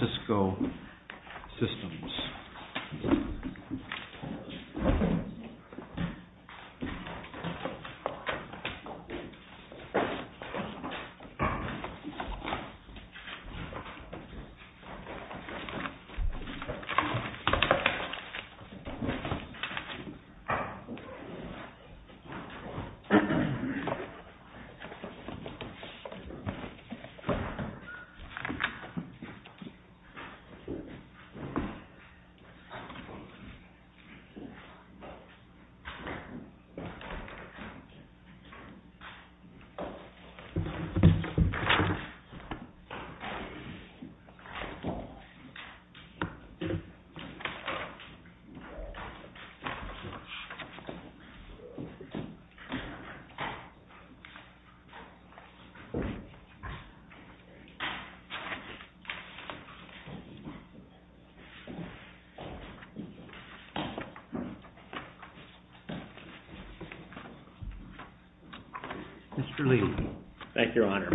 Cisco Systems. Mr. Lee. Thank you, Your Honor.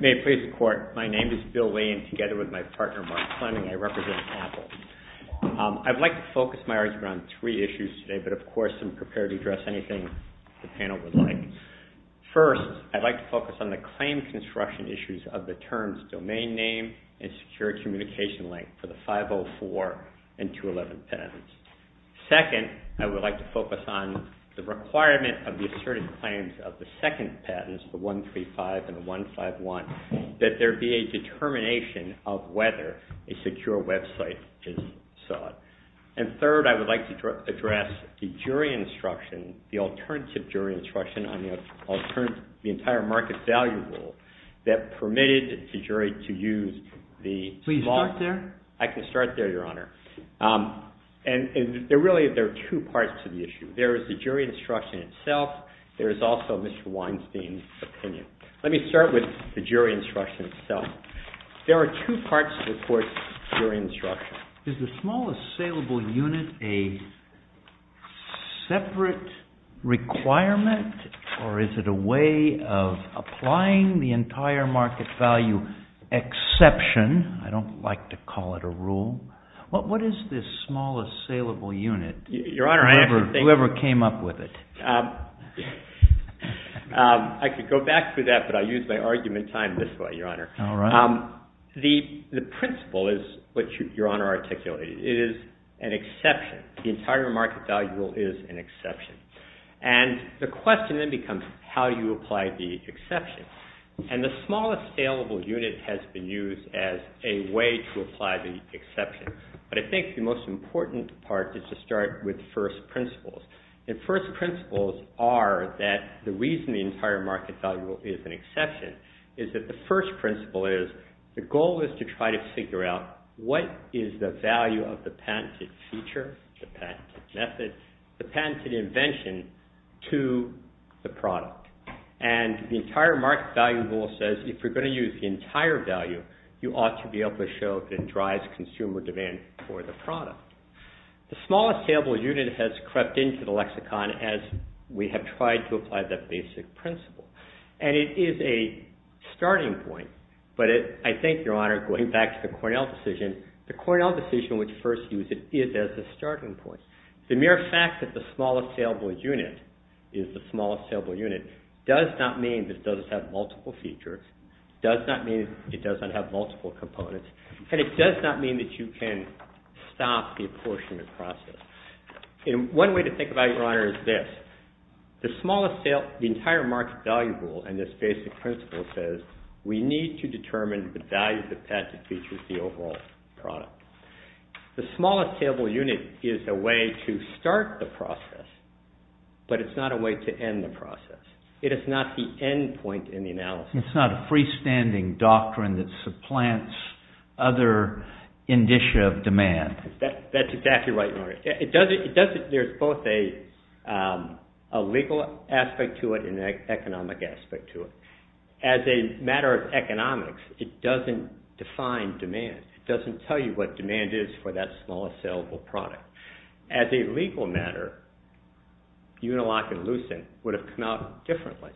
May it please the Court, my name is Bill Lee and together with my partner, Mark Fleming, I represent Apple. I'd like to focus my argument on three issues today, but, of course, I'm prepared to address anything the panel would like. First, I'd like to focus on the claim construction issues of the terms domain name and secure communication link for the 504 and 211 patents. Second, I would like to focus on the requirement of the asserted claims of the second patents, the 135 and 151, that there be a determination of whether a secure website is sought. And third, I would like to address the jury instruction, the alternative jury instruction on the entire market value rule that permitted the jury to use the law. Please start there. I can start there, Your Honor. And really, there are two parts to the issue. There is the jury instruction itself. There is also Mr. Weinstein's opinion. Let me start with the jury instruction itself. There are two parts to the court's jury instruction. Is the small assailable unit a separate requirement, or is it a way of applying the entire market value exception? I don't like to call it a rule. What is this small assailable unit, whoever came up with it? I could go back to that, but I'll use my argument time this way, Your Honor. All right. The principle is what Your Honor articulated. It is an exception. The entire market value rule is an exception. And the question then becomes, how do you apply the exception? And the small assailable unit has been used as a way to apply the exception. But I think the most important part is to start with first principles. And first principles are that the reason the entire market value rule is an exception is that the first goal is to try to figure out what is the value of the patented feature, the patented method, the patented invention to the product. And the entire market value rule says if you're going to use the entire value, you ought to be able to show that it drives consumer demand for the product. The small assailable unit has crept into the lexicon as we have tried to apply that basic principle. And it is a starting point, but I think, Your Honor, going back to the Cornell decision, the Cornell decision which first used it is as a starting point. The mere fact that the small assailable unit is the small assailable unit does not mean that it doesn't have multiple features, does not mean it does not have multiple components, and it does not mean that you can stop the apportionment process. One way to think about it, Your Honor, is this. The entire market value rule and this basic principle says we need to determine the value of the patent which is the overall product. The small assailable unit is a way to start the process, but it's not a way to end the process. It is not the end point in the analysis. It's not a freestanding doctrine that supplants other indicia of demand. That's exactly right, Your Honor. There's both a legal aspect to it and an economic aspect to it. As a matter of economics, it doesn't define demand. It doesn't tell you what demand is for that small assailable product. As a legal matter, Uniloc and Lucent would have come out differently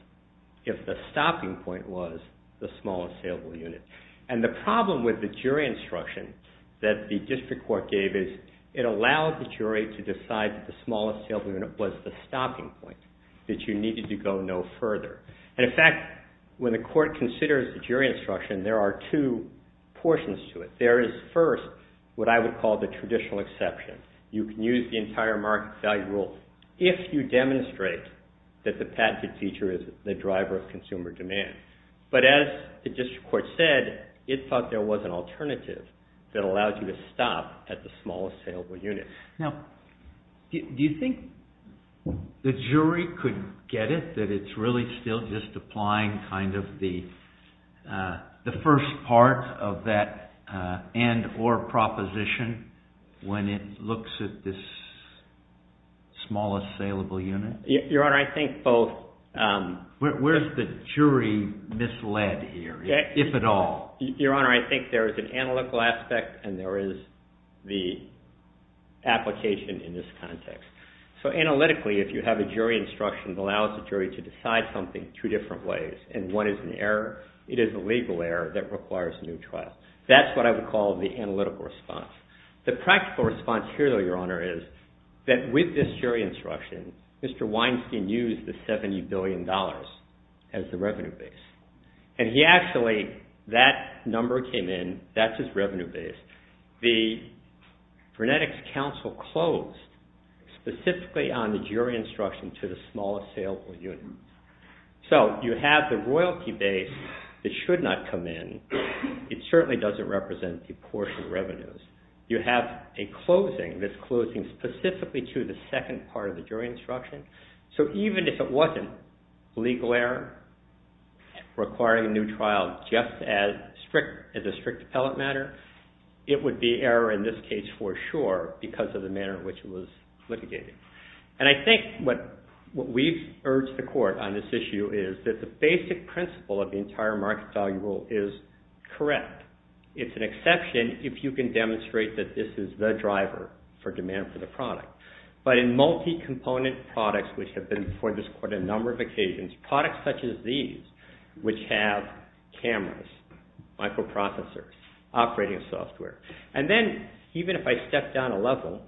if the stopping point was the small assailable unit. The problem with the jury instruction that the district court gave is it allowed the jury to decide that the small assailable unit was the stopping point, that you needed to go no further. In fact, when the court considers the jury instruction, there are two portions to it. There is first what I would call the traditional exception. You can use the entire market value rule if you demonstrate that the patented feature is the driver of consumer demand. But as the district court said, it thought there was an alternative that allowed you to stop at the small assailable unit. Now, do you think the jury could get it that it's really still just applying kind of the first part of that end or proposition when it looks at this small assailable unit? Your Honor, I think both. Where is the jury misled here, if at all? Your Honor, I think there is an analytical aspect, and there is the application in this context. So analytically, if you have a jury instruction that allows the jury to decide something two different ways, and one is an error, it is a legal error that requires a new trial. That's what I would call the analytical response. The practical response here, though, Your Honor, is that with this jury instruction, Mr. Weinstein used the $70 billion as the revenue base. And he actually, that number came in, that's his revenue base. The frenetics counsel closed specifically on the jury instruction to the small assailable unit. So you have the royalty base that should not come in. You have a closing that's closing specifically to the second part of the jury instruction. So even if it wasn't legal error requiring a new trial just as a strict appellate matter, it would be error in this case for sure because of the manner in which it was litigated. And I think what we've urged the Court on this issue is that the basic principle of the entire market value rule is correct. It's an exception if you can demonstrate that this is the driver for demand for the product. But in multi-component products which have been before this Court on a number of occasions, products such as these which have cameras, microprocessors, operating software. And then even if I step down a level,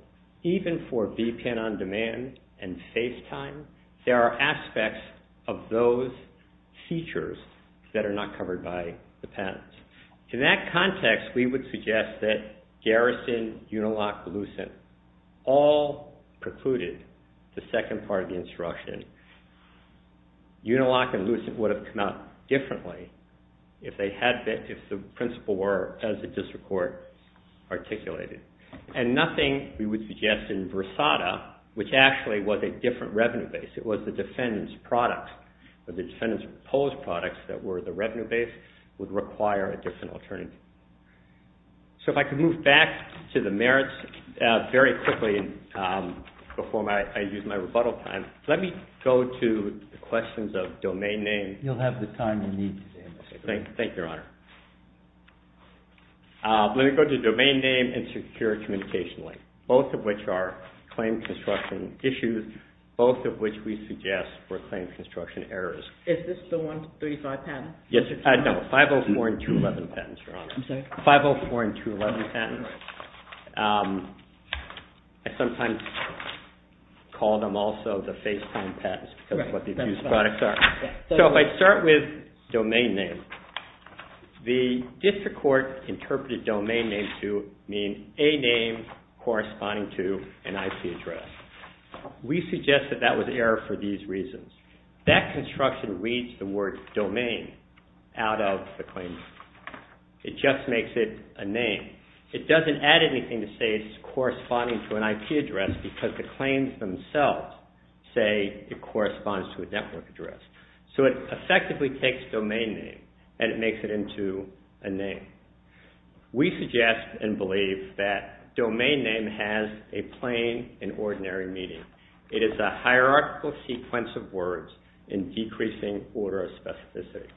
even for VPN on demand and FaceTime, there are aspects of those features that are not covered by the patents. In that context, we would suggest that Garrison, Unilock, Lucent all precluded the second part of the instruction. Unilock and Lucent would have come out differently if the principle were, as it does the Court, articulated. And nothing we would suggest in Versada which actually was a different revenue base. It was the defendant's product or the defendant's proposed products that were the revenue base would require a different alternative. So if I could move back to the merits very quickly before I use my rebuttal time. Let me go to the questions of domain name. You'll have the time you need today. Thank you, Your Honor. Let me go to domain name and secure communication link, both of which are claim construction issues, both of which we suggest were claim construction errors. Is this the 135 patent? Yes. No, 504 and 211 patents, Your Honor. I'm sorry? 504 and 211 patents. I sometimes call them also the FaceTime patents because of what the abuse products are. So if I start with domain name, the district court interpreted domain name to mean a name corresponding to an IP address. We suggest that that was error for these reasons. That construction reads the word domain out of the claim. It just makes it a name. It doesn't add anything to say it's corresponding to an IP address because the claims themselves say it corresponds to a network address. So it effectively takes domain name and it makes it into a name. We suggest and believe that domain name has a plain and ordinary meaning. It is a hierarchical sequence of words in decreasing order of specificity.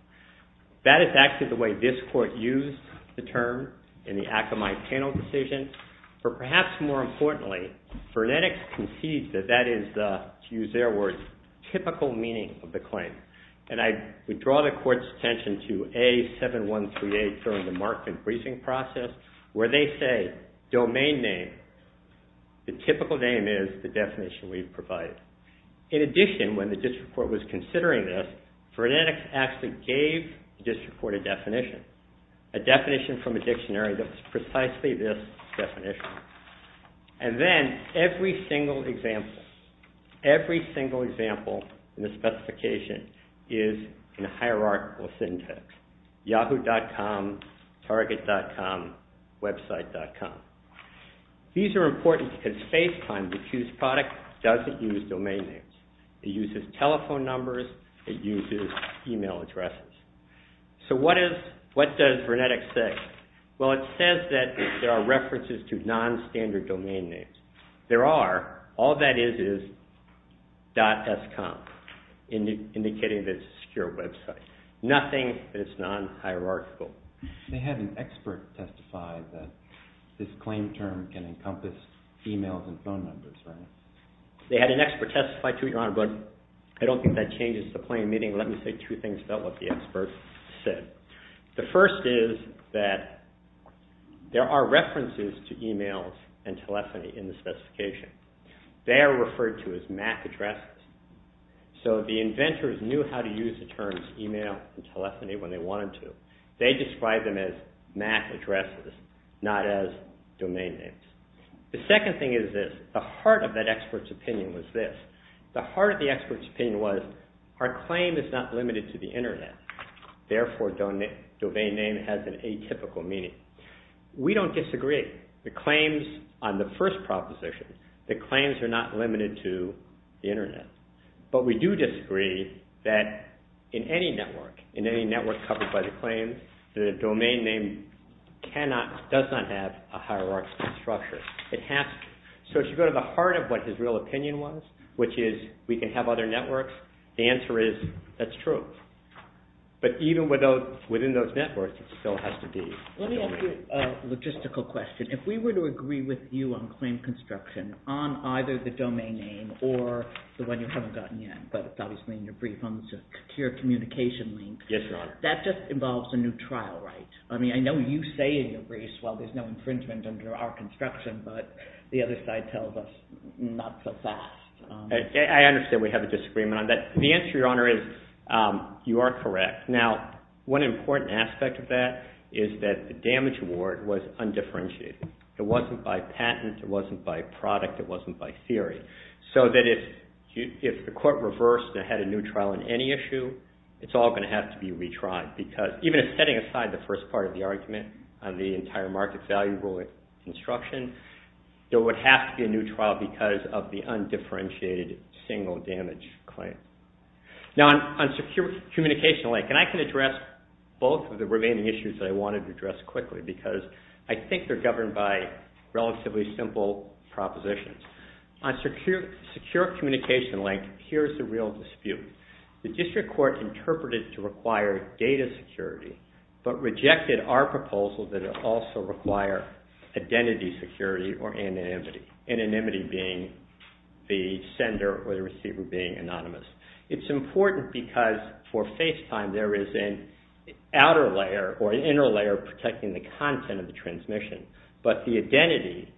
That is actually the way this court used the term in the Akamai panel decision. But perhaps more importantly, Vernetics concedes that that is, to use their words, typical meaning of the claim. We draw the court's attention to A7138 during the Markman briefing process where they say domain name. The typical name is the definition we've provided. In addition, when the district court was considering this, Vernetics actually gave the district court a definition, a definition from a dictionary that was precisely this definition. And then every single example, every single example in the specification is in a hierarchical syntax. Yahoo.com, Target.com, Website.com. These are important because FaceTime, the accused product, doesn't use domain names. It uses telephone numbers. It uses email addresses. So what does Vernetics say? Well, it says that there are references to non-standard domain names. There are. All that is is .scom, indicating that it's a secure website. Nothing that is non-hierarchical. They had an expert testify that this claim term can encompass emails and phone numbers, right? They had an expert testify to it, Your Honor, but I don't think that changes the plain meaning. Let me say two things about what the expert said. The first is that there are references to emails and telephony in the specification. They are referred to as MAC addresses. So the inventors knew how to use the terms email and telephony when they wanted to. They described them as MAC addresses, not as domain names. The second thing is this. The heart of that expert's opinion was this. The heart of the expert's opinion was our claim is not limited to the Internet. Therefore, domain name has an atypical meaning. We don't disagree. The claims on the first proposition, the claims are not limited to the Internet. But we do disagree that in any network, in any network covered by the claims, the domain name does not have a hierarchical structure. It has to. So if you go to the heart of what his real opinion was, which is we can have other networks, the answer is that's true. But even within those networks, it still has to be a domain name. Let me ask you a logistical question. If we were to agree with you on claim construction on either the domain name or the one you haven't gotten yet, but it's obviously in your brief, on the secure communication link, that just involves a new trial, right? I mean, I know you say in your brief, well, there's no infringement under our construction, but the other side tells us not so fast. I understand we have a disagreement on that. The answer, Your Honor, is you are correct. Now, one important aspect of that is that the damage award was undifferentiated. It wasn't by patent. It wasn't by product. It wasn't by theory. So that if the court reversed and had a new trial on any issue, it's all going to have to be retried because even if setting aside the first part of the argument on the entire market value rule construction, there would have to be a new trial because of the undifferentiated single damage claim. Now, on secure communication link, and I can address both of the remaining issues that I wanted to address quickly because I think they're governed by relatively simple propositions. On secure communication link, here's the real dispute. The district court interpreted to require data security but rejected our proposal that it also require identity security or anonymity, anonymity being the sender or the receiver being anonymous. It's important because for FaceTime, there is an outer layer or an inner layer protecting the content of the transmission, but the identity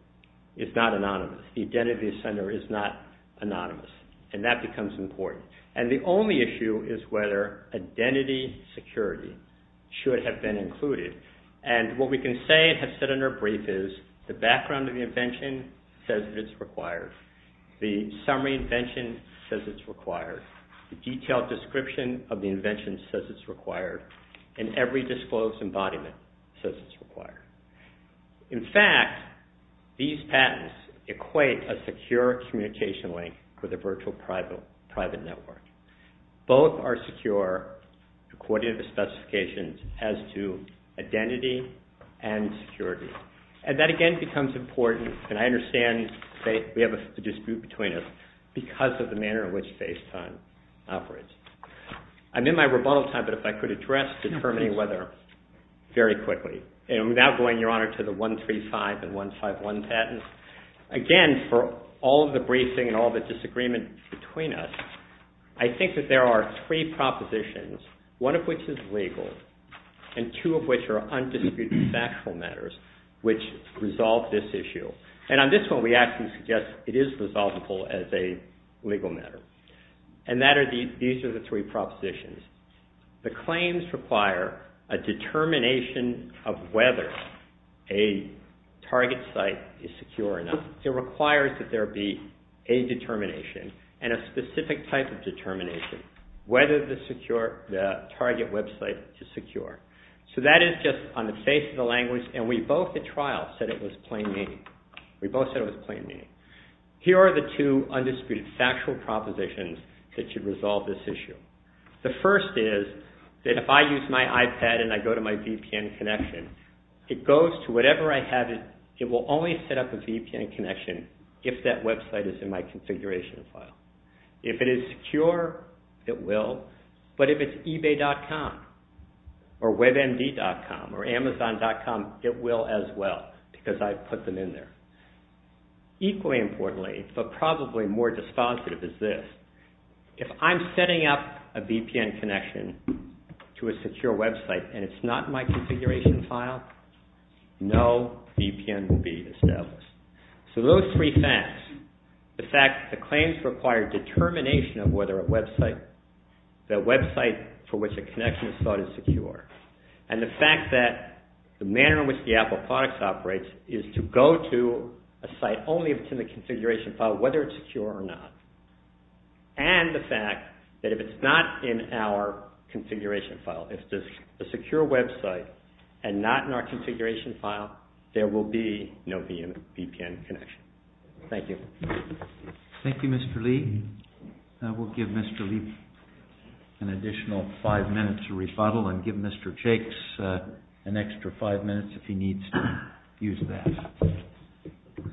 is not anonymous. The identity of the sender is not anonymous, and that becomes important. And the only issue is whether identity security should have been included. And what we can say and have said in our brief is the background of the invention says it's required. The summary invention says it's required. The detailed description of the invention says it's required, In fact, these patents equate a secure communication link for the virtual private network. Both are secure according to the specifications as to identity and security. And that again becomes important, and I understand we have a dispute between us because of the manner in which FaceTime operates. I'm in my rebuttal time, but if I could address determining whether very quickly, and without going, Your Honor, to the 135 and 151 patents. Again, for all of the briefing and all of the disagreement between us, I think that there are three propositions, one of which is legal, and two of which are undisputed factual matters which resolve this issue. And on this one, we actually suggest it is resolvable as a legal matter. And these are the three propositions. The claims require a determination of whether a target site is secure or not. It requires that there be a determination and a specific type of determination, whether the target website is secure. So that is just on the face of the language, and we both at trial said it was plain meaning. We both said it was plain meaning. Here are the two undisputed factual propositions that should resolve this issue. The first is that if I use my iPad and I go to my VPN connection, it goes to whatever I have. It will only set up a VPN connection if that website is in my configuration file. If it is secure, it will. But if it's eBay.com or WebMD.com or Amazon.com, it will as well, because I put them in there. Equally importantly, but probably more dispensative, is this. If I'm setting up a VPN connection to a secure website and it's not in my configuration file, no VPN will be established. So those three facts, the fact the claims require determination of whether a website, the website for which a connection is thought is secure, and the fact that the manner in which the Apple products operates is to go to a site only if it's in the configuration file, whether it's secure or not, and the fact that if it's not in our configuration file, if it's a secure website and not in our configuration file, there will be no VPN connection. Thank you. Thank you, Mr. Lee. We'll give Mr. Lee an additional five minutes to rebuttal and give Mr. Jakes an extra five minutes if he needs to use that.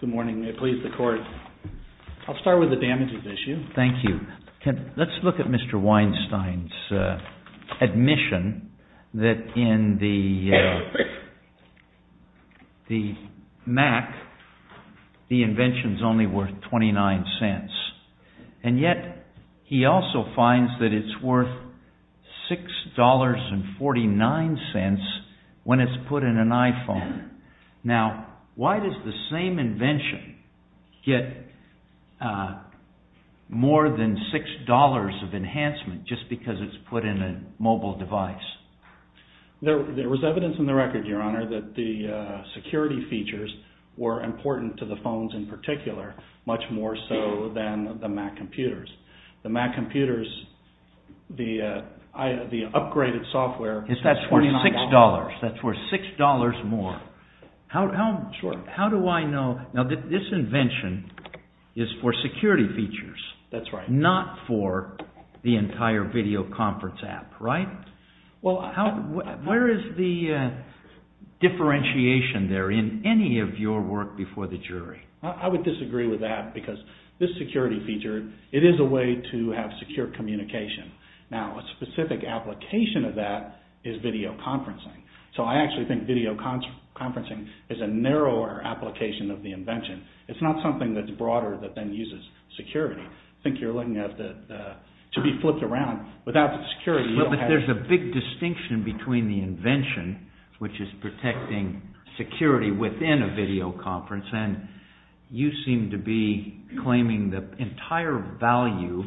Good morning. May it please the Court. I'll start with the damages issue. Thank you. Let's look at Mr. Weinstein's admission that in the MAC, the invention is only worth 29 cents. And yet, he also finds that it's worth $6.49 when it's put in an iPhone. Now, why does the same invention get more than $6 of enhancement just because it's put in a mobile device? There was evidence in the record, Your Honor, that the security features were important to the phones in particular, much more so than the MAC computers. The MAC computers, the upgraded software is worth $6. That's worth $6 more. How do I know? Now, this invention is for security features. That's right. Not for the entire video conference app, right? Where is the differentiation there in any of your work before the jury? I would disagree with that because this security feature, it is a way to have secure communication. Now, a specific application of that is video conferencing. So, I actually think video conferencing is a narrower application of the invention. It's not something that's broader that then uses security. I think you're looking at it to be flipped around. Without the security, you don't have… You seem to be claiming the entire value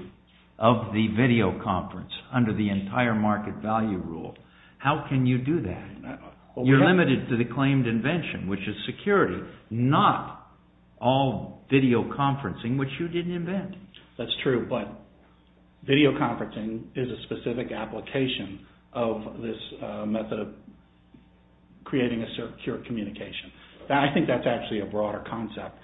of the video conference under the entire market value rule. How can you do that? You're limited to the claimed invention, which is security, not all video conferencing, which you didn't invent. That's true, but video conferencing is a specific application of this method of creating a secure communication. I think that's actually a broader concept.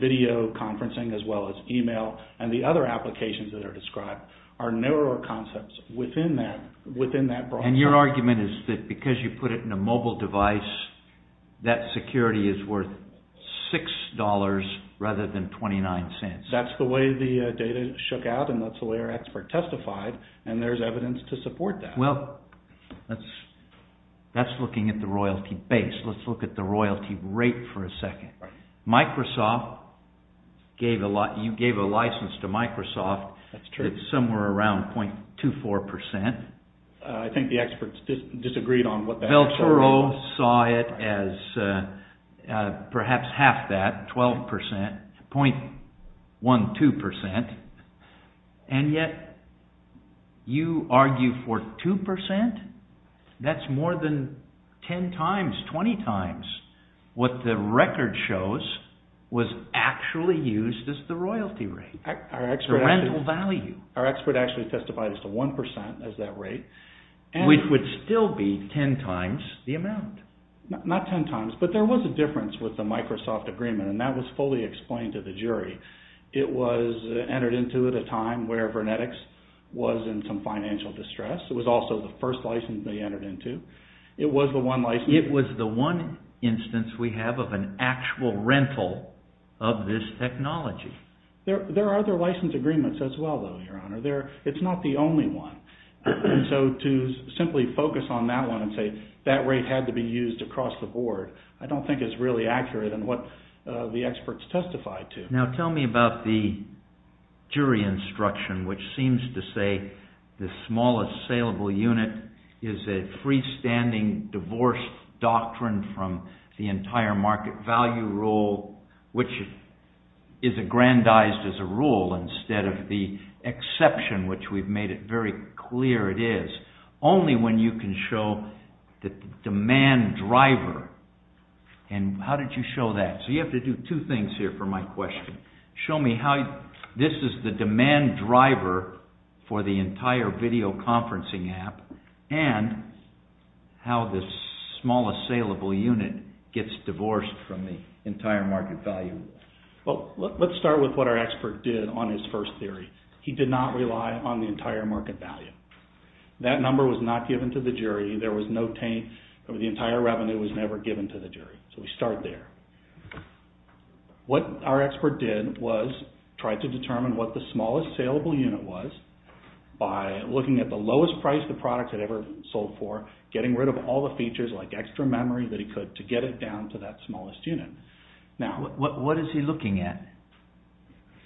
Video conferencing as well as email and the other applications that are described are narrower concepts within that broad… Your argument is that because you put it in a mobile device, that security is worth $6 rather than $0.29. That's the way the data shook out and that's the way our expert testified and there's evidence to support that. Well, that's looking at the royalty base. Let's look at the royalty rate for a second. Microsoft, you gave a license to Microsoft. That's true. It's somewhere around 0.24%. I think the experts disagreed on what… The Bureau saw it as perhaps half that, 12%, 0.12%, and yet you argue for 2%. That's more than 10 times, 20 times what the record shows was actually used as the royalty rate, the rental value. Our expert actually testified as to 1% as that rate. Which would still be 10 times the amount. Not 10 times, but there was a difference with the Microsoft agreement and that was fully explained to the jury. It was entered into at a time where Vernetix was in some financial distress. It was also the first license they entered into. It was the one license… It was the one instance we have of an actual rental of this technology. There are other license agreements as well, though, Your Honor. It's not the only one. So to simply focus on that one and say that rate had to be used across the board, I don't think is really accurate in what the experts testified to. Now tell me about the jury instruction, which seems to say the smallest saleable unit is a freestanding divorce doctrine from the entire market value rule, which is aggrandized as a rule instead of the exception, which we've made it very clear it is, only when you can show the demand driver. How did you show that? So you have to do two things here for my question. Show me how this is the demand driver for the entire video conferencing app and how this smallest saleable unit gets divorced from the entire market value rule. Well, let's start with what our expert did on his first theory. He did not rely on the entire market value. That number was not given to the jury. There was no taint. The entire revenue was never given to the jury. So we start there. What our expert did was try to determine what the smallest saleable unit was by looking at the lowest price the product had ever sold for, getting rid of all the features like extra memory that he could to get it down to that smallest unit. What is he looking at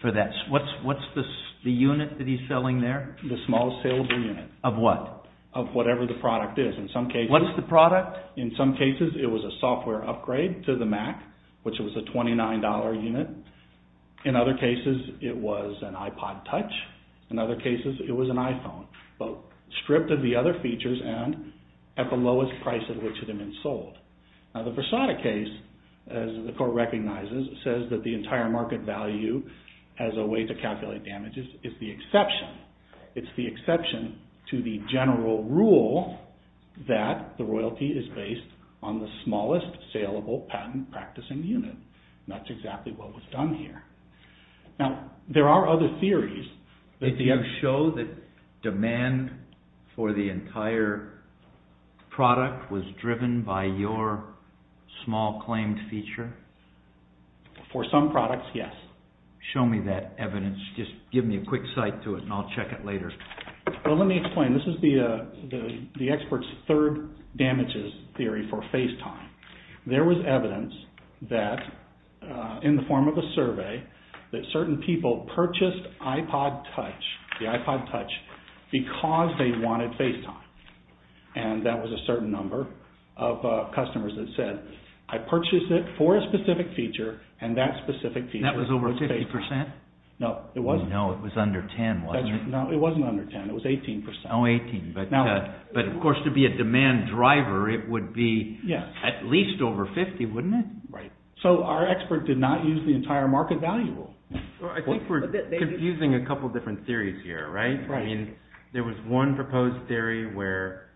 for that? What's the unit that he's selling there? The smallest saleable unit. Of what? Of whatever the product is. What is the product? In some cases, it was a software upgrade to the Mac, which was a $29 unit. In other cases, it was an iPod Touch. In other cases, it was an iPhone. But stripped of the other features and at the lowest price at which it had been sold. Now the Versada case, as the court recognizes, says that the entire market value as a way to calculate damages is the exception. It's the exception to the general rule that the royalty is based on the smallest saleable patent practicing unit. That's exactly what was done here. Now there are other theories. Did you show that demand for the entire product was driven by your small claimed feature? For some products, yes. Show me that evidence. Just give me a quick sight to it and I'll check it later. Well, let me explain. This is the expert's third damages theory for FaceTime. There was evidence that, in the form of a survey, that certain people purchased iPod Touch, the iPod Touch, because they wanted FaceTime. And that was a certain number of customers that said, I purchased it for a specific feature and that specific feature... That was over 50%? No, it wasn't. No, it was under 10, wasn't it? No, it wasn't under 10. It was 18%. Oh, 18. But of course, to be a demand driver, it would be at least over 50, wouldn't it? Right. So our expert did not use the entire market value rule. I think we're confusing a couple of different theories here, right? Right. I mean, there was one proposed theory where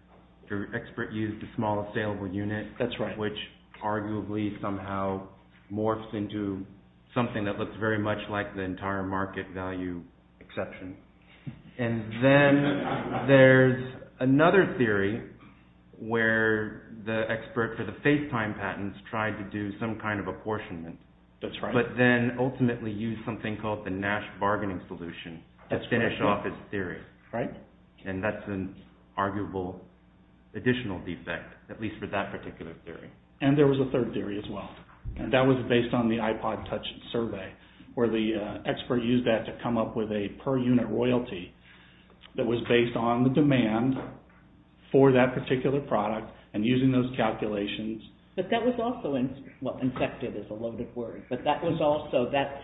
the expert used the smallest saleable unit... That's right. ...which arguably somehow morphs into something that looks very much like the entire market value exception. And then there's another theory where the expert for the FaceTime patents tried to do some kind of apportionment... That's right. ...but then ultimately used something called the Nash bargaining solution to finish off his theory. Right. And that's an arguable additional defect, at least for that particular theory. And there was a third theory as well. And that was based on the iPod Touch survey where the expert used that to come up with a per unit royalty that was based on the demand for that particular product and using those calculations... But that was also... Well, infected is a loaded word. That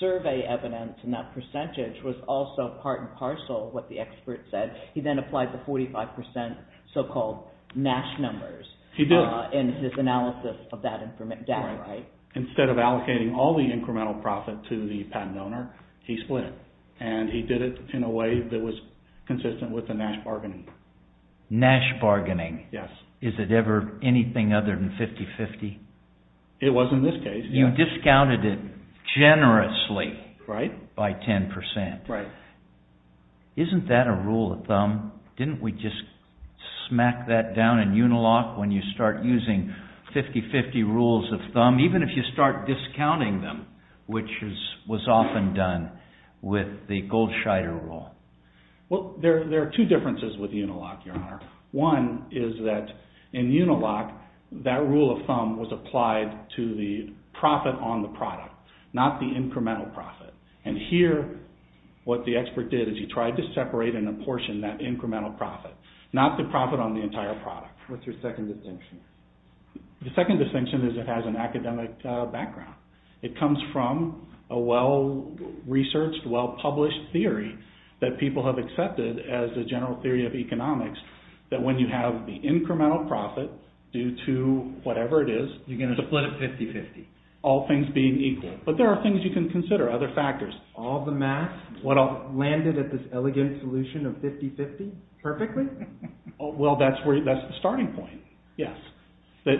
survey evidence and that percentage was also part and parcel of what the expert said. He then applied the 45% so-called Nash numbers... He did. ...in his analysis of that data, right? Right. Instead of allocating all the incremental profit to the patent owner, he split it. And he did it in a way that was consistent with the Nash bargaining. Nash bargaining? Yes. Is it ever anything other than 50-50? It was in this case. You discounted it generously... Right. ...by 10%. Right. Isn't that a rule of thumb? Didn't we just smack that down in Unilock when you start using 50-50 rules of thumb, even if you start discounting them, which was often done with the Goldscheider rule? Well, there are two differences with Unilock, Your Honor. One is that in Unilock, that rule of thumb was applied to the profit on the product, not the incremental profit. And here, what the expert did is he tried to separate in a portion that incremental profit, not the profit on the entire product. What's your second distinction? The second distinction is it has an academic background. It comes from a well-researched, well-published theory that people have accepted as the general theory of economics, that when you have the incremental profit due to whatever it is... You're going to split it 50-50. ...all things being equal. But there are things you can consider, other factors. All the math landed at this elegant solution of 50-50 perfectly? Well, that's the starting point, yes. That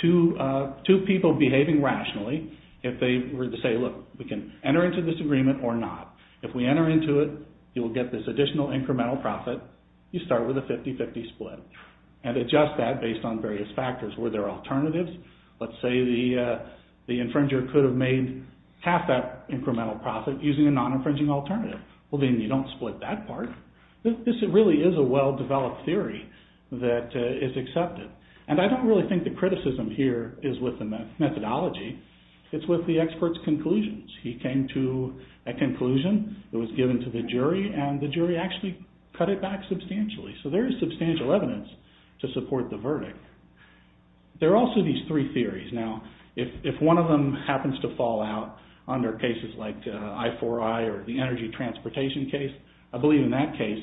two people behaving rationally, if they were to say, look, we can enter into this agreement or not. If we enter into it, you will get this additional incremental profit. You start with a 50-50 split and adjust that based on various factors. Were there alternatives? Let's say the infringer could have made half that incremental profit using a non-infringing alternative. Well, then you don't split that part. This really is a well-developed theory that is accepted. And I don't really think the criticism here is with the methodology. It's with the expert's conclusions. He came to a conclusion that was given to the jury, and the jury actually cut it back substantially. So there is substantial evidence to support the verdict. There are also these three theories. Now, if one of them happens to fall out under cases like I-IV-I or the energy transportation case, I believe in that case,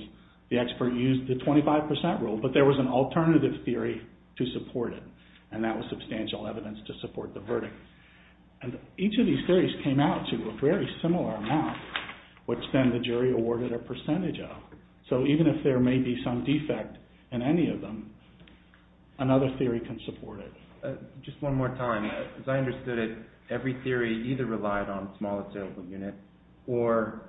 the expert used the 25% rule, but there was an alternative theory to support it, and that was substantial evidence to support the verdict. And each of these theories came out to a very similar amount, which then the jury awarded a percentage of. So even if there may be some defect in any of them, another theory can support it. Just one more time. As I understood it, every theory either relied on a smaller sales unit or,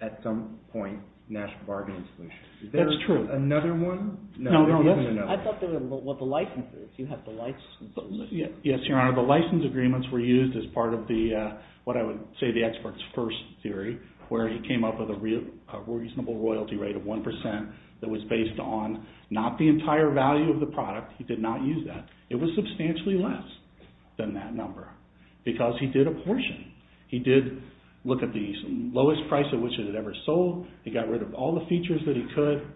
at some point, national bargaining solutions. That's true. Is there another one? No, there isn't another. I thought there were the licenses. Yes, Your Honor. The license agreements were used as part of the, what I would say the expert's first theory, where he came up with a reasonable royalty rate of 1% that was based on not the entire value of the product. He did not use that. It was substantially less than that number because he did a portion. He did look at the lowest price at which it had ever sold. He got rid of all the features that he could.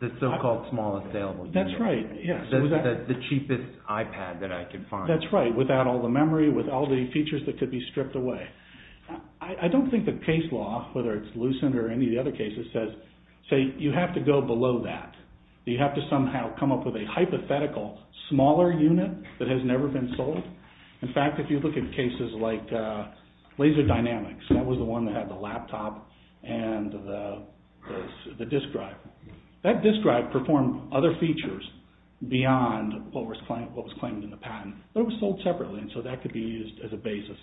The so-called small sale. That's right. The cheapest iPad that I could find. That's right, without all the memory, with all the features that could be stripped away. I don't think the case law, whether it's Lucent or any of the other cases, says you have to go below that. You have to somehow come up with a hypothetical smaller unit that has never been sold. In fact, if you look at cases like Laser Dynamics, that was the one that had the laptop and the disk drive. That disk drive performed other features beyond what was claimed in the patent, but it was sold separately, and so that could be used as a basis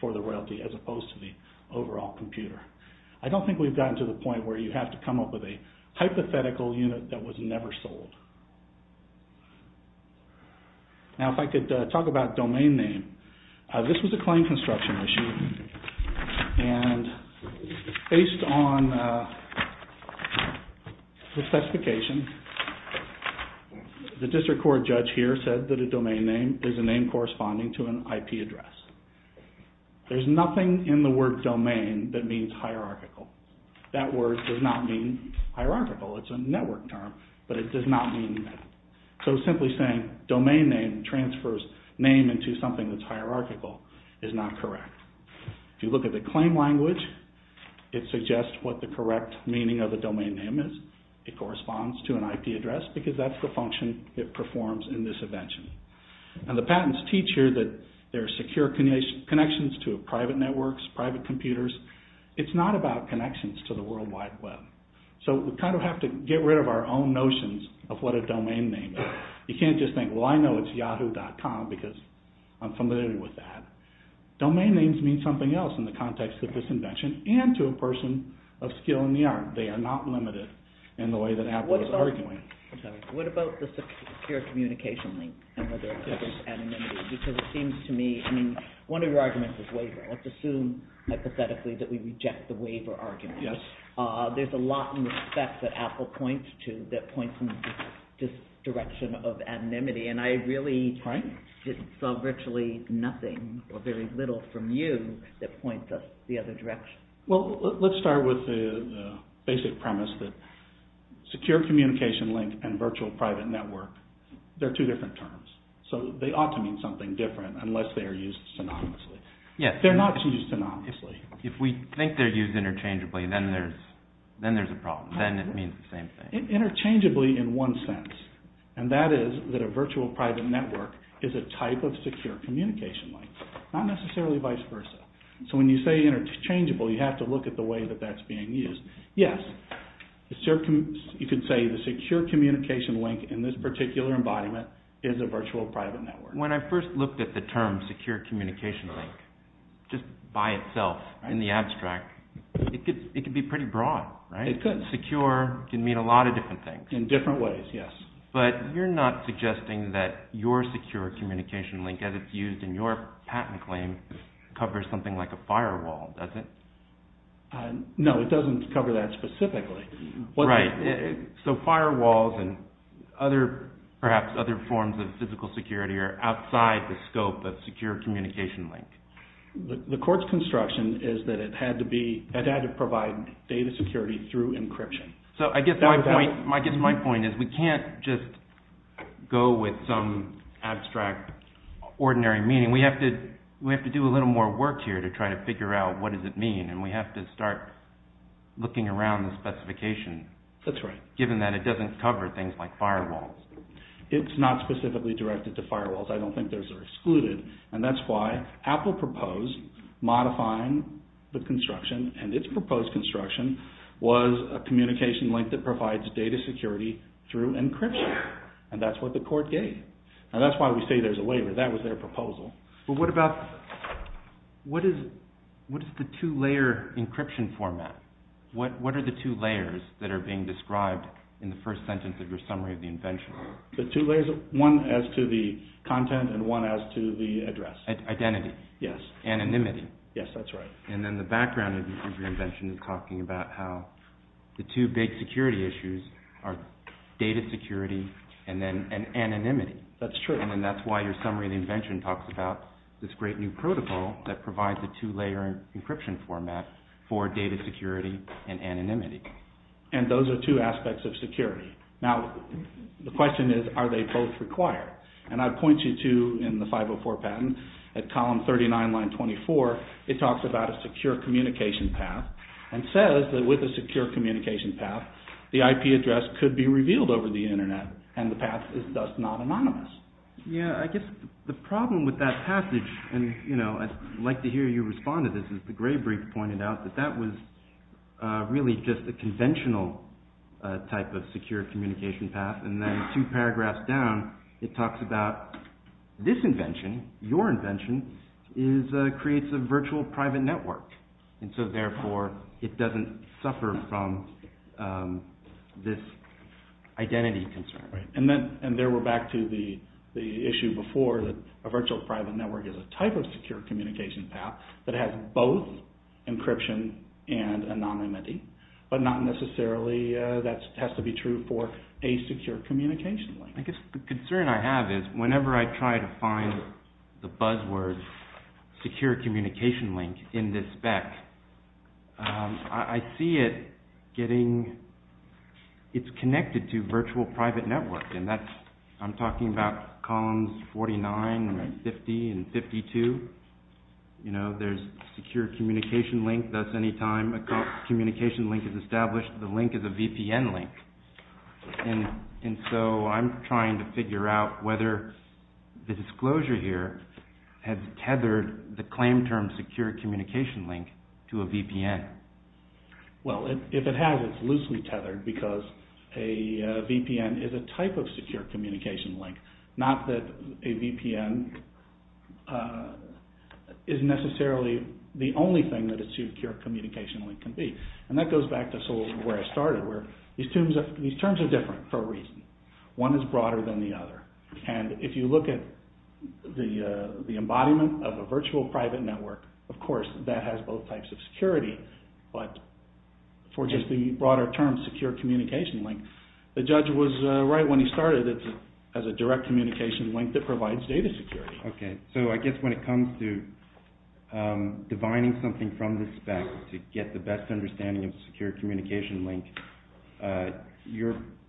for the royalty as opposed to the overall computer. I don't think we've gotten to the point where you have to come up with a hypothetical unit that was never sold. Now, if I could talk about domain name. This was a claim construction issue, and based on the specification, the district court judge here said that a domain name is a name corresponding to an IP address. There's nothing in the word domain that means hierarchical. That word does not mean hierarchical. It's a network term, but it does not mean that. So simply saying domain name transfers name into something that's hierarchical is not correct. If you look at the claim language, it suggests what the correct meaning of the domain name is. It corresponds to an IP address because that's the function it performs in this invention. And the patents teach here that there are secure connections to private networks, private computers. It's not about connections to the World Wide Web. So we kind of have to get rid of our own notions of what a domain name is. You can't just think, well, I know it's Yahoo.com because I'm familiar with that. Domain names mean something else in the context of this invention and to a person of skill in the art. They are not limited in the way that Apple is arguing. I'm sorry. What about the secure communication link and whether it covers anonymity? Because it seems to me, I mean, one of your arguments is waiver. Let's assume hypothetically that we reject the waiver argument. Yes. There's a lot in the specs that Apple points to that points to this direction of anonymity, and I really just saw virtually nothing or very little from you that points us the other direction. Well, let's start with the basic premise that secure communication link and virtual private network, they're two different terms. So they ought to mean something different unless they are used synonymously. They're not used synonymously. If we think they're used interchangeably, then there's a problem. Then it means the same thing. Interchangeably in one sense, and that is that a virtual private network is a type of secure communication link, not necessarily vice versa. So when you say interchangeable, you have to look at the way that that's being used. Yes, you could say the secure communication link in this particular embodiment is a virtual private network. When I first looked at the term secure communication link just by itself in the abstract, it could be pretty broad, right? It could. Secure can mean a lot of different things. In different ways, yes. But you're not suggesting that your secure communication link as it's used in your patent claim covers something like a firewall, does it? No, it doesn't cover that specifically. Right. So firewalls and perhaps other forms of physical security are outside the scope of secure communication link. The court's construction is that it had to provide data security through encryption. So I guess my point is we can't just go with some abstract ordinary meaning. We have to do a little more work here to try to figure out what does it mean, and we have to start looking around the specification. That's right. Given that it doesn't cover things like firewalls. It's not specifically directed to firewalls. I don't think those are excluded, and that's why Apple proposed modifying the construction, and its proposed construction was a communication link that provides data security through encryption, and that's what the court gave. Now that's why we say there's a waiver. That was their proposal. But what about, what is the two-layer encryption format? What are the two layers that are being described in the first sentence of your summary of the invention? The two layers, one as to the content and one as to the address. Identity. Yes. Anonymity. Yes, that's right. And then the background of your invention is talking about how the two big security issues are data security and anonymity. That's true. And that's why your summary of the invention talks about this great new protocol that provides the two-layer encryption format for data security and anonymity. And those are two aspects of security. Now, the question is, are they both required? And I point you to, in the 504 patent, at column 39, line 24, it talks about a secure communication path and says that with a secure communication path, the IP address could be revealed over the internet and the path is thus not anonymous. Yeah, I guess the problem with that passage, and I'd like to hear you respond to this, is the Gray brief pointed out that that was really just a conventional type of secure communication path. And then two paragraphs down, it talks about this invention, your invention, creates a virtual private network. And so therefore, it doesn't suffer from this identity concern. Right. And there we're back to the issue before that a virtual private network is a type of secure communication path that has both encryption and anonymity, but not necessarily that has to be true for a secure communication link. I guess the concern I have is, whenever I try to find the buzzword secure communication link in this spec, I see it getting, it's connected to virtual private network and that's, I'm talking about columns 49 and 50 and 52. You know, there's secure communication link, that's any time a communication link is established, the link is a VPN link. And so I'm trying to figure out whether the disclosure here has tethered the claim term secure communication link to a VPN. Well, if it has, it's loosely tethered because a VPN is a type of secure communication link, not that a VPN is necessarily the only thing that a secure communication link can be. And that goes back to sort of where I started where these terms are different for a reason. One is broader than the other. And if you look at the embodiment of a virtual private network, of course that has both types of security, but for just the broader term secure communication link, the judge was right when he started, it has a direct communication link that provides data security. Okay, so I guess when it comes to divining something from this spec to get the best understanding of secure communication link,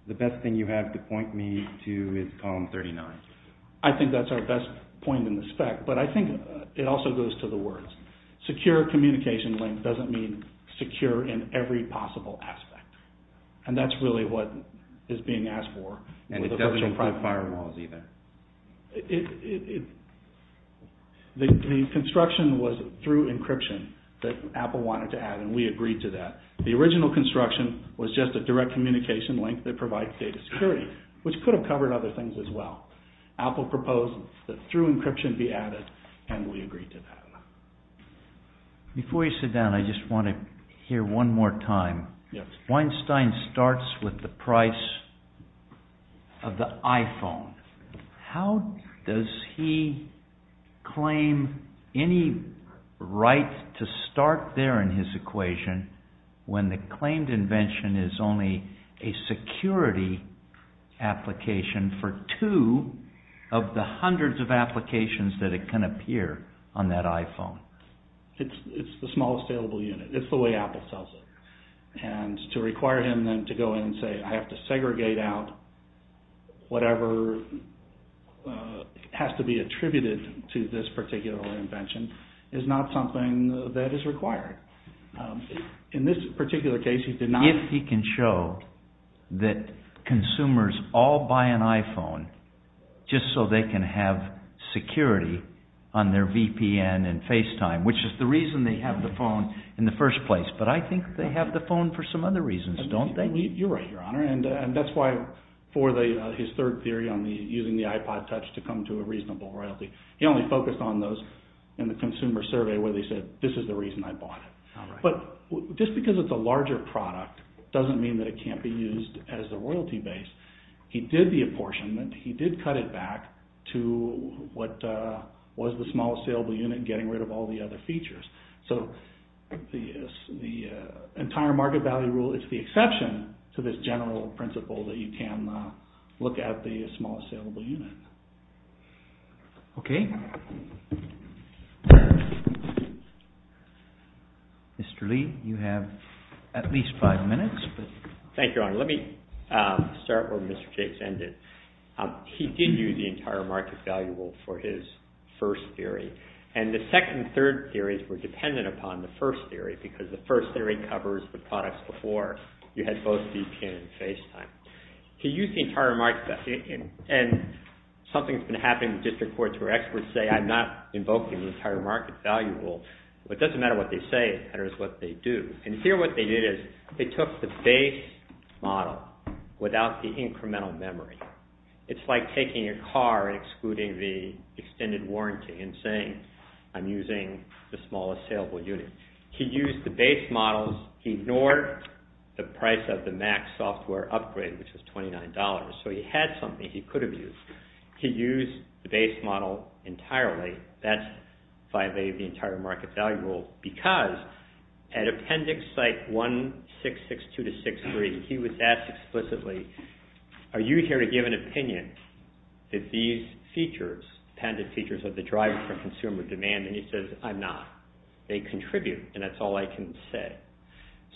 the best thing you have to point me to is column 39. I think that's our best point in the spec, but I think it also goes to the words. Secure communication link doesn't mean secure in every possible aspect. And that's really what is being asked for. And it doesn't include firewalls either. The construction was through encryption that Apple wanted to add, and we agreed to that. The original construction was just a direct communication link that provides data security, which could have covered other things as well. Apple proposed that through encryption be added, and we agreed to that. Before you sit down, I just want to hear one more time. Weinstein starts with the price of the iPhone. How does he claim any right to start there in his equation when the claimed invention is only a security application for two of the hundreds of applications that it can appear on that iPhone? It's the smallest available unit. It's the way Apple sells it. And to require him then to go in and say, I have to segregate out whatever has to be attributed to this particular invention is not something that is required. In this particular case, he did not... If he can show that consumers all buy an iPhone just so they can have security on their VPN and FaceTime, which is the reason they have the phone in the first place, but I think they have the phone for some other reasons, don't they? You're right, Your Honor. And that's why for his third theory on using the iPod Touch to come to a reasonable royalty, he only focused on those in the consumer survey where they said, this is the reason I bought it. But just because it's a larger product doesn't mean that it can't be used as the royalty base. He did the apportionment. He did cut it back to what was the smallest available unit and getting rid of all the other features. So the entire market value rule is the exception to this general principle that you can look at the smallest available unit. Okay. Mr. Lee, you have at least five minutes. Thank you, Your Honor. Let me start where Mr. Jacobs ended. He did use the entire market value rule for his first theory. And the second and third theories were dependent upon the first theory because the first theory covers the products before you had both VPN and FaceTime. He used the entire market value. And something's been happening in district courts where experts say I'm not invoking the entire market value rule. But it doesn't matter what they say. It matters what they do. And here what they did is they took the base model without the incremental memory. It's like taking a car and excluding the extended warranty and saying I'm using the smallest available unit. He used the base models. He ignored the price of the Mac software upgrade, which was $29. So he had something he could have used. He used the base model entirely. That's violated the entire market value rule because at Appendix Site 1662-63, he was asked explicitly, are you here to give an opinion that these features, dependent features are the driver for consumer demand? And he says I'm not. They contribute, and that's all I can say.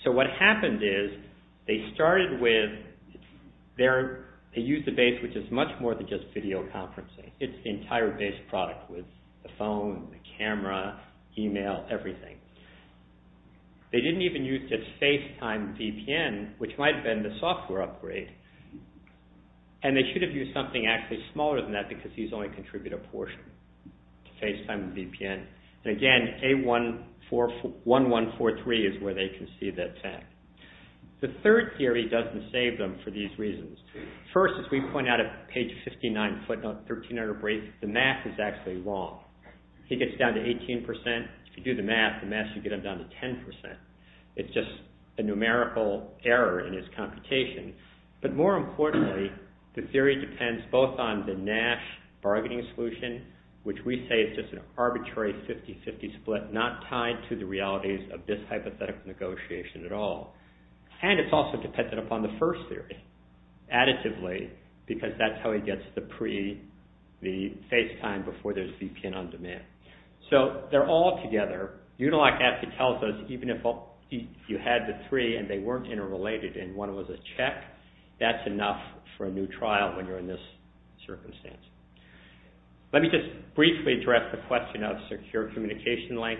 So what happened is they started with, they used the base, which is much more than just video conferencing. It's the entire base product with the phone, the camera, email, everything. They didn't even use just FaceTime VPN, which might have been the software upgrade. And they should have used something actually smaller than that because these only contribute a portion to FaceTime VPN. And again, A1143 is where they can see that fact. The third theory doesn't save them for these reasons. First, as we point out at page 59, footnote 1300 brief, the math is actually wrong. He gets down to 18%. If you do the math, the math should get him down to 10%. It's just a numerical error in his computation. But more importantly, the theory depends both on the Nash bargaining solution, which we say is just an arbitrary 50-50 split, not tied to the realities of this hypothetical negotiation at all. And it's also dependent upon the first theory, additively, because that's how he gets the pre, the FaceTime before there's VPN on demand. So they're all together. Unilock actually tells us even if you had the three and they weren't interrelated and one was a check, that's enough for a new trial when you're in this circumstance. Let me just briefly address the question of secure communication link.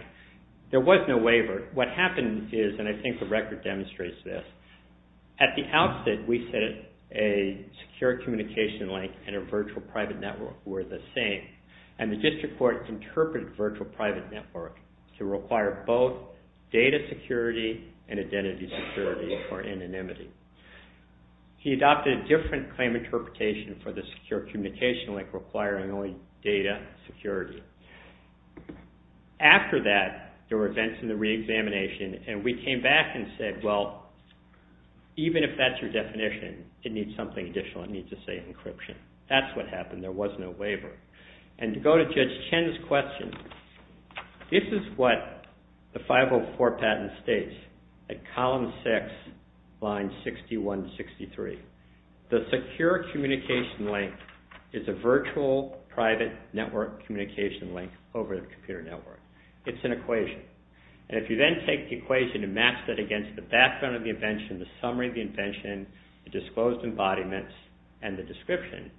There was no waiver. What happened is, and I think the record demonstrates this, at the outset, we said a secure communication link and a virtual private network were the same. And the district court interpreted virtual private network to require both data security and identity security or anonymity. He adopted a different claim interpretation for the secure communication link requiring only data security. After that, there were events in the reexamination and we came back and said, well, even if that's your definition, it needs something additional. It needs to say encryption. That's what happened. There was no waiver. And to go to Judge Chen's question, this is what the 504 patent states. At column six, line 6163, the secure communication link is a virtual private network communication link over the computer network. It's an equation. And if you then take the equation and match that against the background of the invention, the summary of the invention, the disclosed embodiments, and the description,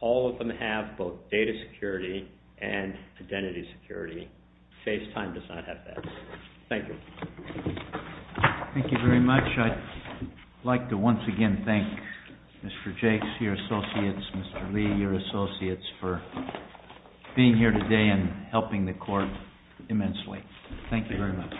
all of them have both data security and identity security. FaceTime does not have that. Thank you. Thank you very much. I'd like to once again thank Mr. Jakes, your associates, Mr. Lee, your associates, for being here today and helping the court immensely. Thank you very much.